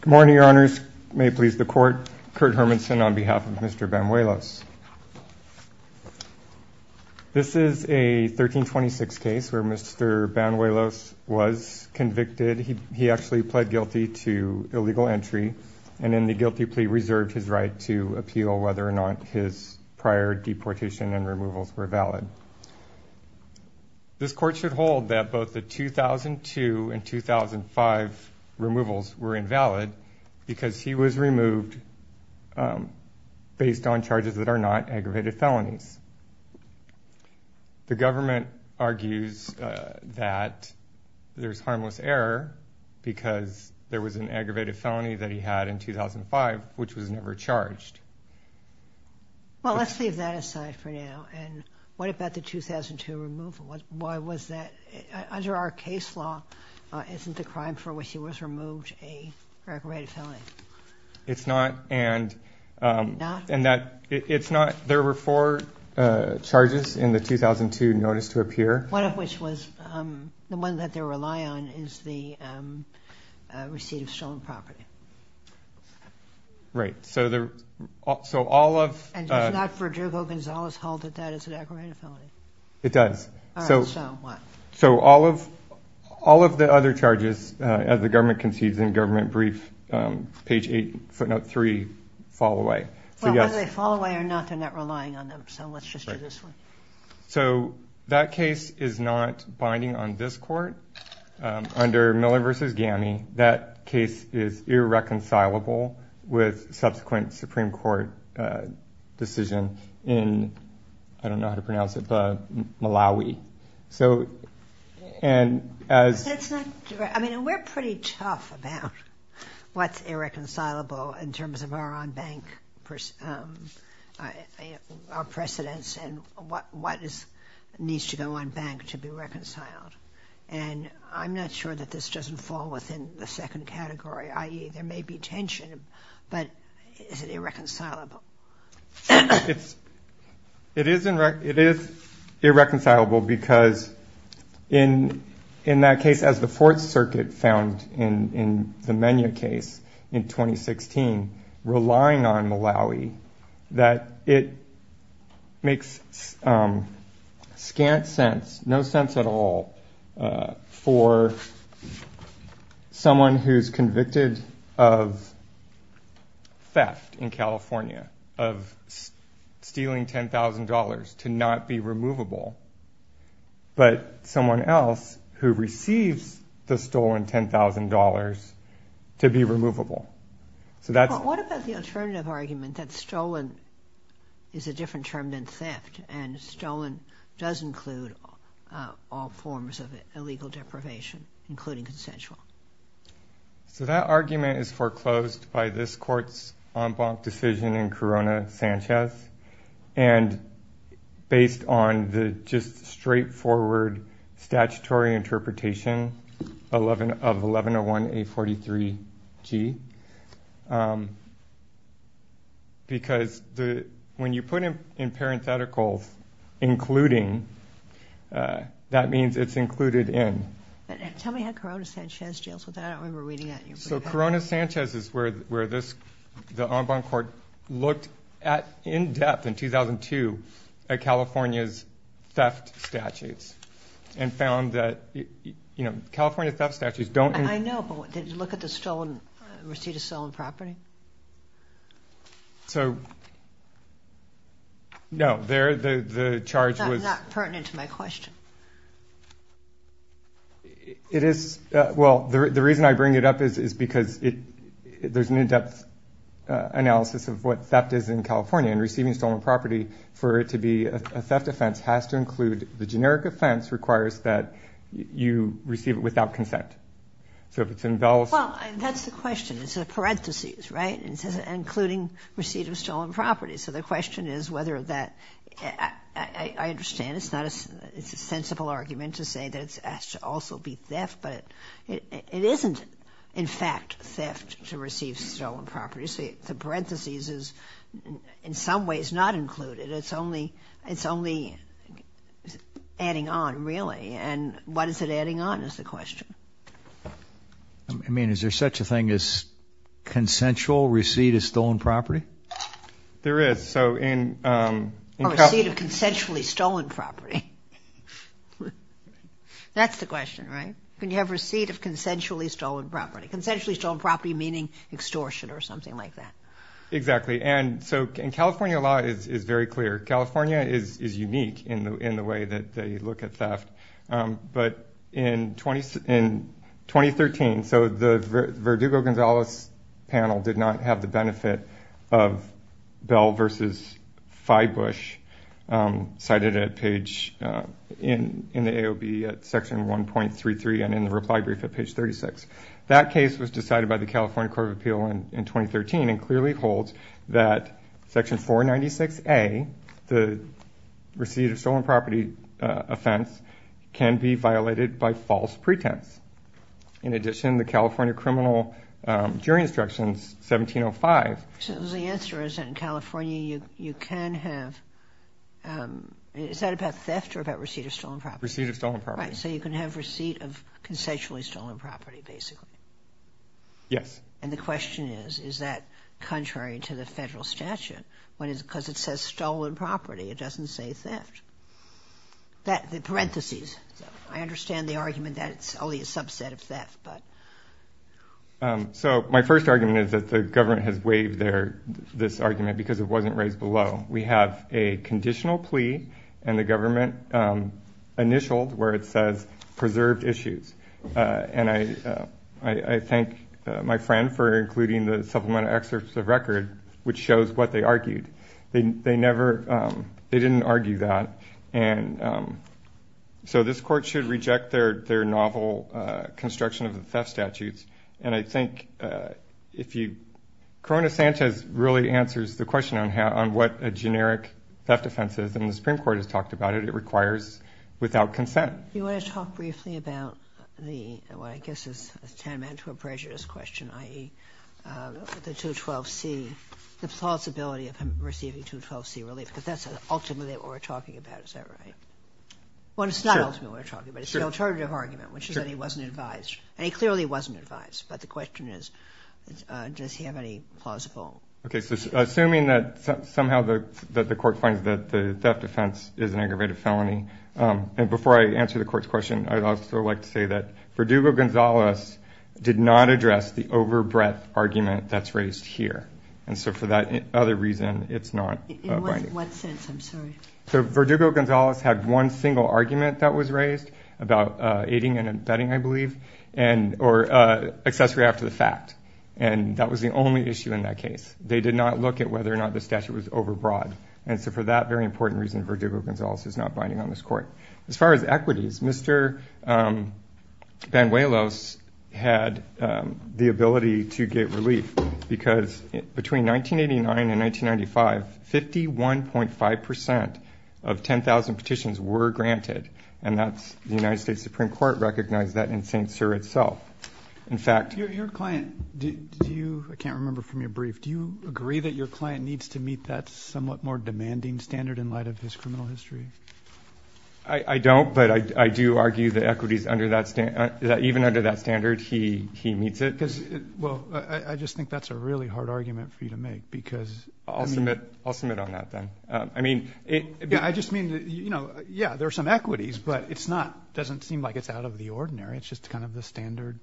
Good morning, your honors. May it please the court. Kurt Hermanson on behalf of Mr. Banuelos. This is a 1326 case where Mr. Banuelos was convicted. He actually pled guilty to illegal entry and in the guilty plea reserved his right to appeal whether or not his prior deportation and removals were valid. This court should hold that both the 2002 and 2005 removals were invalid because he was removed based on charges that are not aggravated felonies. The government argues that there's harmless error because there was an aggravated felony that he had in 2005 which was never charged. Well, let's leave that aside for now. And what about the 2002 removal? Why was that? Under our case law, isn't the crime for which he was removed an aggravated felony? It's not. It's not? It's not. There were four charges in the 2002 notice to appear. One of which was the one that they rely on is the receipt of stolen property. Right. So all of... And it's not Verdugo-Gonzalez-Hall that that is an aggravated felony? It does. All right. So what? So all of the other charges, as the government concedes in government brief, page 8, footnote 3, fall away. Well, whether they fall away or not, they're not relying on them. So let's just do this one. So that case is not binding on this court. Under Miller v. Gammie, that case is irreconcilable with subsequent Supreme Court decision in, I don't know how to pronounce it, Malawi. So, and as... That's not... I mean, we're pretty tough about what's irreconcilable in terms of our on-bank precedents and what needs to go on bank to be reconciled. And I'm not sure that this doesn't fall within the second category, i.e., there may be tension, but is it irreconcilable? It is irreconcilable because in that case, as the Fourth Circuit found in the Menya case in 2016, relying on Malawi, that it makes scant sense, no sense at all, for someone who's convicted of theft in California, of stealing $10,000 to not be removable, but someone else who receives the stolen $10,000 to be removable. So that's... But what about the alternative argument that stolen is a different term than theft and stolen does include all forms of illegal deprivation, including consensual? So that argument is foreclosed by this court's on-bank decision in Corona-Sanchez and based on the just straightforward statutory interpretation of 1101-843-G. Because when you put in parentheticals, including, that means it's included in. Tell me how Corona-Sanchez deals with that. I don't remember reading that in your brief. Corona-Sanchez is where the on-bank court looked at in depth in 2002 at California's theft statutes and found that California theft statutes don't... I know, but did you look at the stolen receipt of stolen property? No, the charge was... That's not pertinent to my question. It is... Well, the reason I bring it up is because there's an in-depth analysis of what theft is in California and receiving stolen property for it to be a theft offense has to include... The generic offense requires that you receive it without consent. So if it's in... Well, that's the question. It's in parentheses, right? It says including receipt of stolen property. So the question is whether that... I understand it's a sensible argument to say that it's asked to also be theft, but it isn't, in fact, theft to receive stolen property. So the parentheses is in some ways not included. It's only adding on, really. And what is it adding on is the question. I mean, is there such a thing as consensual receipt of stolen property? There is. Or receipt of consensually stolen property. That's the question, right? Can you have receipt of consensually stolen property? Consensually stolen property meaning extortion or something like that. Exactly. And so in California, a lot is very clear. California is unique in the way that they look at theft. But in 2013, so the Verdugo-Gonzalez panel did not have the benefit of Bell versus Fybush cited in the AOB at Section 1.33 and in the reply brief at page 36. That case was decided by the California Court of Appeal in 2013 and clearly holds that Section 496A, the receipt of stolen property offense, can be violated by false pretense. In addition, the California Criminal Jury Instructions 1705. So the answer is in California you can have – is that about theft or about receipt of stolen property? Receipt of stolen property. Right, so you can have receipt of consensually stolen property, basically. Yes. And the question is, is that contrary to the federal statute? Because it says stolen property. It doesn't say theft. The parentheses. I understand the argument that it's only a subset of theft. So my first argument is that the government has waived this argument because it wasn't raised below. We have a conditional plea and the government initialed where it says preserved issues. And I thank my friend for including the supplemental excerpts of record, which shows what they argued. They never – they didn't argue that. And so this court should reject their novel construction of the theft statutes. And I think if you – Corona Sanchez really answers the question on what a generic theft offense is, and the Supreme Court has talked about it. It requires without consent. Do you want to talk briefly about the – what I guess is tantamount to a prejudiced question, i.e., the 212C, the plausibility of him receiving 212C relief? Because that's ultimately what we're talking about. Is that right? Sure. Well, it's not ultimately what we're talking about. It's the alternative argument, which is that he wasn't advised. And he clearly wasn't advised. But the question is, does he have any plausible – Okay. So assuming that somehow the court finds that the theft offense is an aggravated felony – and before I answer the court's question, I'd also like to say that Verdugo-Gonzalez did not address the overbreadth argument that's raised here. And so for that other reason, it's not binding. In what sense? I'm sorry. So Verdugo-Gonzalez had one single argument that was raised about aiding and abetting, I believe, and – or accessory after the fact. And that was the only issue in that case. They did not look at whether or not the statute was overbroad. And so for that very important reason, Verdugo-Gonzalez is not binding on this court. As far as equities, Mr. Banuelos had the ability to get relief because between 1989 and 1995, 51.5% of 10,000 petitions were granted, and that's – the United States Supreme Court recognized that in St. Cyr itself. In fact – Your client – do you – I can't remember from your brief. Do you agree that your client needs to meet that somewhat more demanding standard in light of his criminal history? I don't, but I do argue that equities under that – even under that standard, he meets it. Well, I just think that's a really hard argument for you to make because – I'll submit on that then. I mean – I just mean, you know, yeah, there are some equities, but it's not – it doesn't seem like it's out of the ordinary. It's just kind of the standard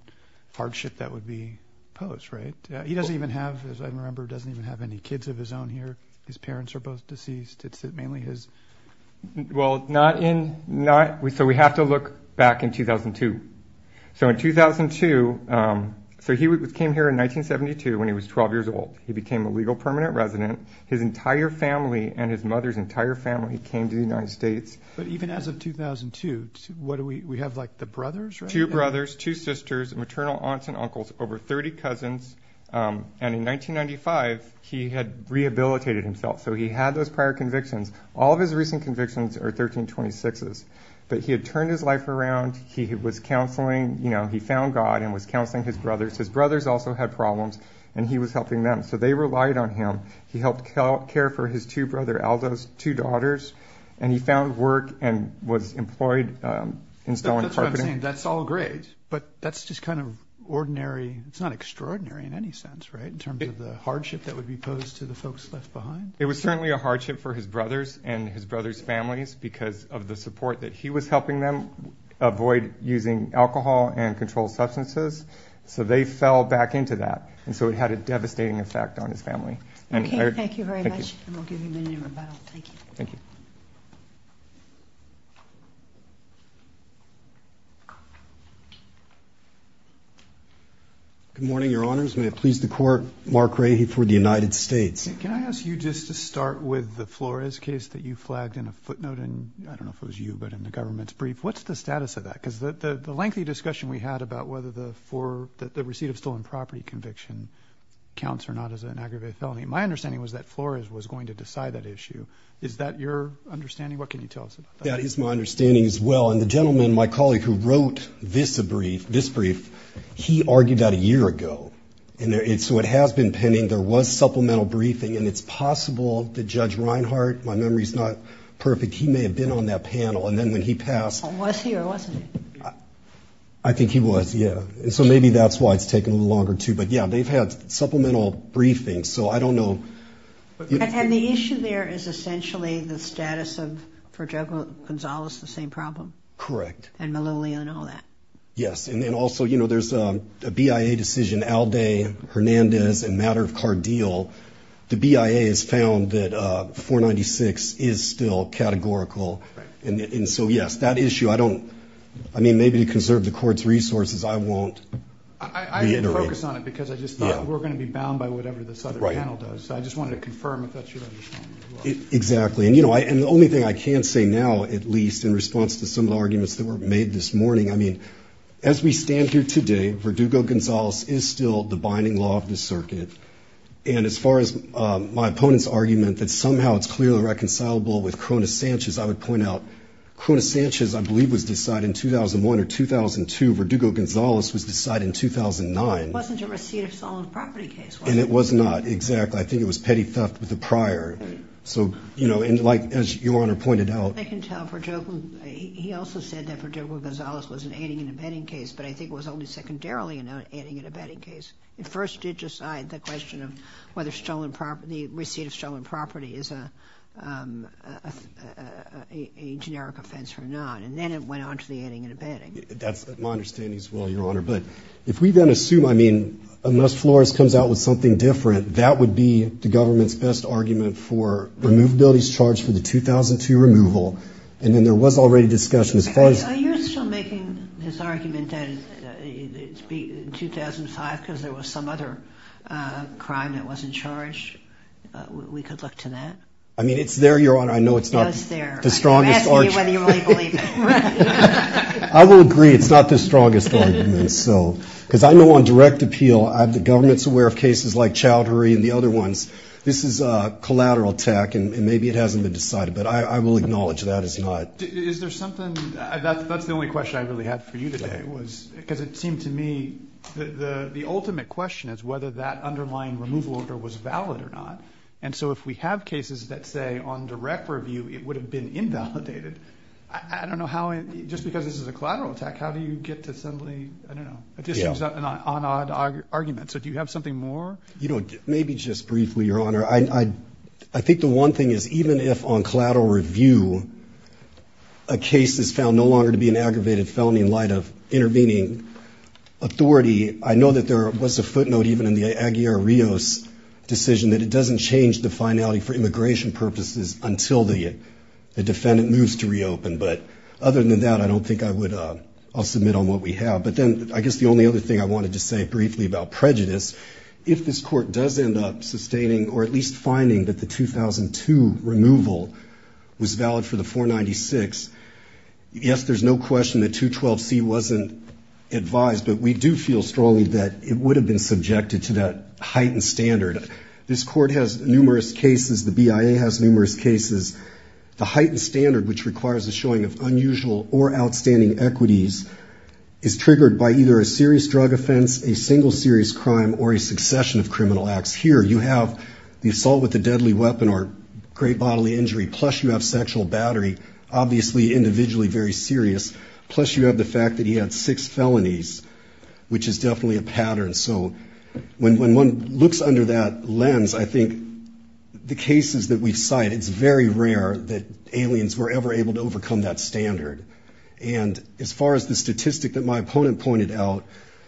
hardship that would be posed, right? He doesn't even have – as I remember, doesn't even have any kids of his own here. His parents are both deceased. It's mainly his – Well, not in – so we have to look back in 2002. So in 2002 – so he came here in 1972 when he was 12 years old. He became a legal permanent resident. His entire family and his mother's entire family came to the United States. But even as of 2002, what do we – we have, like, the brothers, right? Two brothers, two sisters, maternal aunts and uncles, over 30 cousins. And in 1995, he had rehabilitated himself. So he had those prior convictions. All of his recent convictions are 1326s. But he had turned his life around. He was counseling. You know, he found God and was counseling his brothers. His brothers also had problems, and he was helping them. So they relied on him. He helped care for his two brother Aldo's two daughters, and he found work and was employed installing carpeting. And that's all great, but that's just kind of ordinary. It's not extraordinary in any sense, right, in terms of the hardship that would be posed to the folks left behind? It was certainly a hardship for his brothers and his brothers' families because of the support that he was helping them avoid using alcohol and controlled substances. So they fell back into that. And so it had a devastating effect on his family. Okay, thank you very much. Thank you. And we'll give you a minute to rebuttal. Thank you. Thank you. Good morning, Your Honors. May it please the Court. Mark Ray for the United States. Can I ask you just to start with the Flores case that you flagged in a footnote in, I don't know if it was you, but in the government's brief. What's the status of that? Because the lengthy discussion we had about whether the receipt of stolen property conviction counts or not as an aggravated felony, my understanding was that Flores was going to decide that issue. Is that your understanding? What can you tell us about that? That is my understanding as well. And the gentleman, my colleague, who wrote this brief, he argued that a year ago. And so it has been pending. There was supplemental briefing. And it's possible that Judge Reinhart, my memory's not perfect, he may have been on that panel. And then when he passed – Was he or wasn't he? I think he was, yeah. So maybe that's why it's taken a little longer, too. But, yeah, they've had supplemental briefings. So I don't know. And the issue there is essentially the status of, for Judge Gonzales, the same problem? Correct. And Melilla and all that? Yes. And also, you know, there's a BIA decision, Alde, Hernandez, and Matter of Cardeal. The BIA has found that 496 is still categorical. And so, yes, that issue, I don't – I mean, maybe to conserve the Court's resources, I won't reiterate. I didn't focus on it because I just thought we were going to be bound by whatever this other panel does. So I just wanted to confirm if that's your understanding as well. Exactly. And, you know, the only thing I can say now, at least, in response to some of the arguments that were made this morning, I mean, as we stand here today, Verdugo-Gonzales is still the binding law of the circuit. And as far as my opponent's argument that somehow it's clearly reconcilable with Cronus Sanchez, I would point out Cronus Sanchez, I believe, was decided in 2001 or 2002. Verdugo-Gonzales was decided in 2009. It wasn't a receipt of solemn property case, was it? And it was not, exactly. I think it was petty theft with the prior. So, you know, and like – as Your Honor pointed out. I can tell Verdugo – he also said that Verdugo-Gonzales was an aiding and abetting case, but I think it was only secondarily an aiding and abetting case. It first did decide the question of whether the receipt of solemn property is a generic offense or not. And then it went on to the aiding and abetting. That's my understanding as well, Your Honor. But if we then assume – I mean, unless Flores comes out with something different, that would be the government's best argument for removability's charge for the 2002 removal. And then there was already discussion as far as – Are you still making this argument that it's 2005 because there was some other crime that wasn't charged? We could look to that? I mean, it's there, Your Honor. I know it's not – It was there. I'm asking you whether you really believe it. I will agree it's not the strongest argument. Because I know on direct appeal the government's aware of cases like Chowdhury and the other ones. This is a collateral attack, and maybe it hasn't been decided. But I will acknowledge that it's not. Is there something – that's the only question I really had for you today was – because it seemed to me the ultimate question is whether that underlying removal order was valid or not. And so if we have cases that say on direct review it would have been invalidated, I don't know how – just because this is a collateral attack, how do you get to suddenly – I don't know. It just seems an on-odd argument. So do you have something more? Maybe just briefly, Your Honor. I think the one thing is even if on collateral review a case is found no longer to be an aggravated felony in light of intervening authority, I know that there was a footnote even in the Aguiar-Rios decision that it doesn't change the finality for immigration purposes until the defendant moves to reopen. But other than that, I don't think I would – I'll submit on what we have. But then I guess the only other thing I wanted to say briefly about prejudice, if this Court does end up sustaining or at least finding that the 2002 removal was valid for the 496, yes, there's no question that 212C wasn't advised, but we do feel strongly that it would have been subjected to that heightened standard. This Court has numerous cases. The BIA has numerous cases. The heightened standard, which requires the showing of unusual or outstanding equities, is triggered by either a serious drug offense, a single serious crime, or a succession of criminal acts. Here you have the assault with a deadly weapon or great bodily injury, plus you have sexual battery, obviously individually very serious, plus you have the fact that he had six felonies, which is definitely a pattern. So when one looks under that lens, I think the cases that we cite, it's very rare that aliens were ever able to overcome that standard. And as far as the statistic that my opponent pointed out,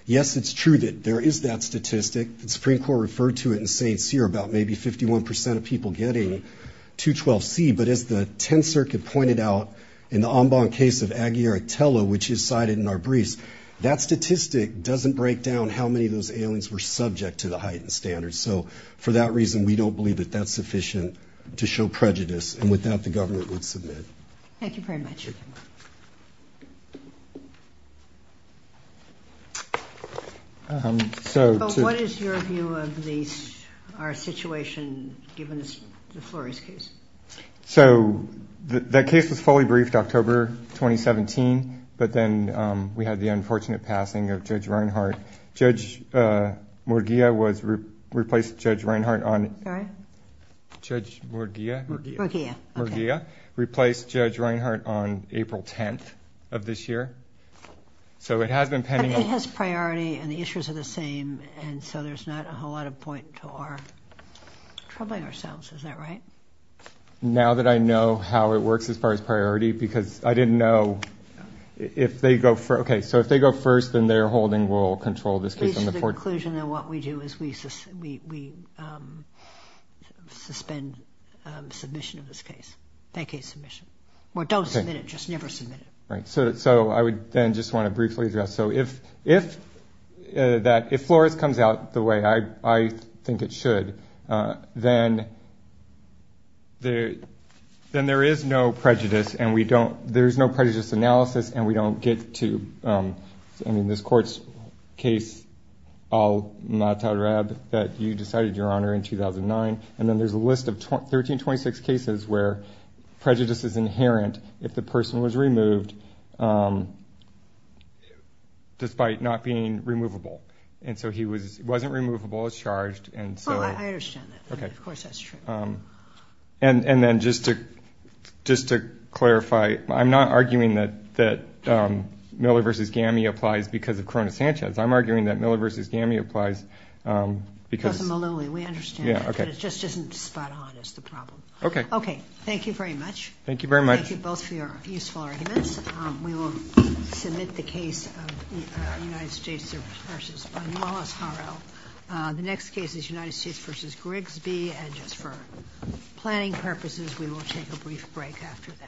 yes, it's true that there is that statistic. The Supreme Court referred to it in St. Cyr about maybe 51 percent of people getting 212C. But as the Tenth Circuit pointed out in the Ambon case of Aguiar Tello, which is cited in our briefs, that statistic doesn't break down how many of those aliens were subject to the heightened standards. So for that reason, we don't believe that that's sufficient to show prejudice. And with that, the government would submit. Thank you very much. What is your view of our situation given the Flores case? So the case was fully briefed October 2017. But then we had the unfortunate passing of Judge Reinhart. Judge Murguia replaced Judge Reinhart on April 10th of this year. So it has been pending. It has priority and the issues are the same. And so there's not a whole lot of point to our troubling ourselves. Is that right? Now that I know how it works as far as priority, because I didn't know if they go first. Okay. So if they go first, then their holding will control this case. The conclusion of what we do is we suspend submission of this case. Vacate submission. Or don't submit it. Just never submit it. Right. So I would then just want to briefly address. So if Flores comes out the way I think it should, then there is no prejudice analysis and we don't get to, I mean, this court's case, Al-Matarab, that you decided, Your Honor, in 2009. And then there's a list of 1326 cases where prejudice is inherent if the person was removed despite not being removable. And so he wasn't removable as charged and so. Oh, I understand that. Of course that's true. And then just to clarify, I'm not arguing that Miller v. Gammie applies because of Corona Sanchez. I'm arguing that Miller v. Gammie applies because. We understand that. But it just isn't spot on is the problem. Okay. Okay. Thank you very much. Thank you very much. Thank you both for your useful arguments. We will submit the case of United States v. Malas Haro. The next case is United States v. Grigsby. And just for planning purposes, we will take a brief break after that.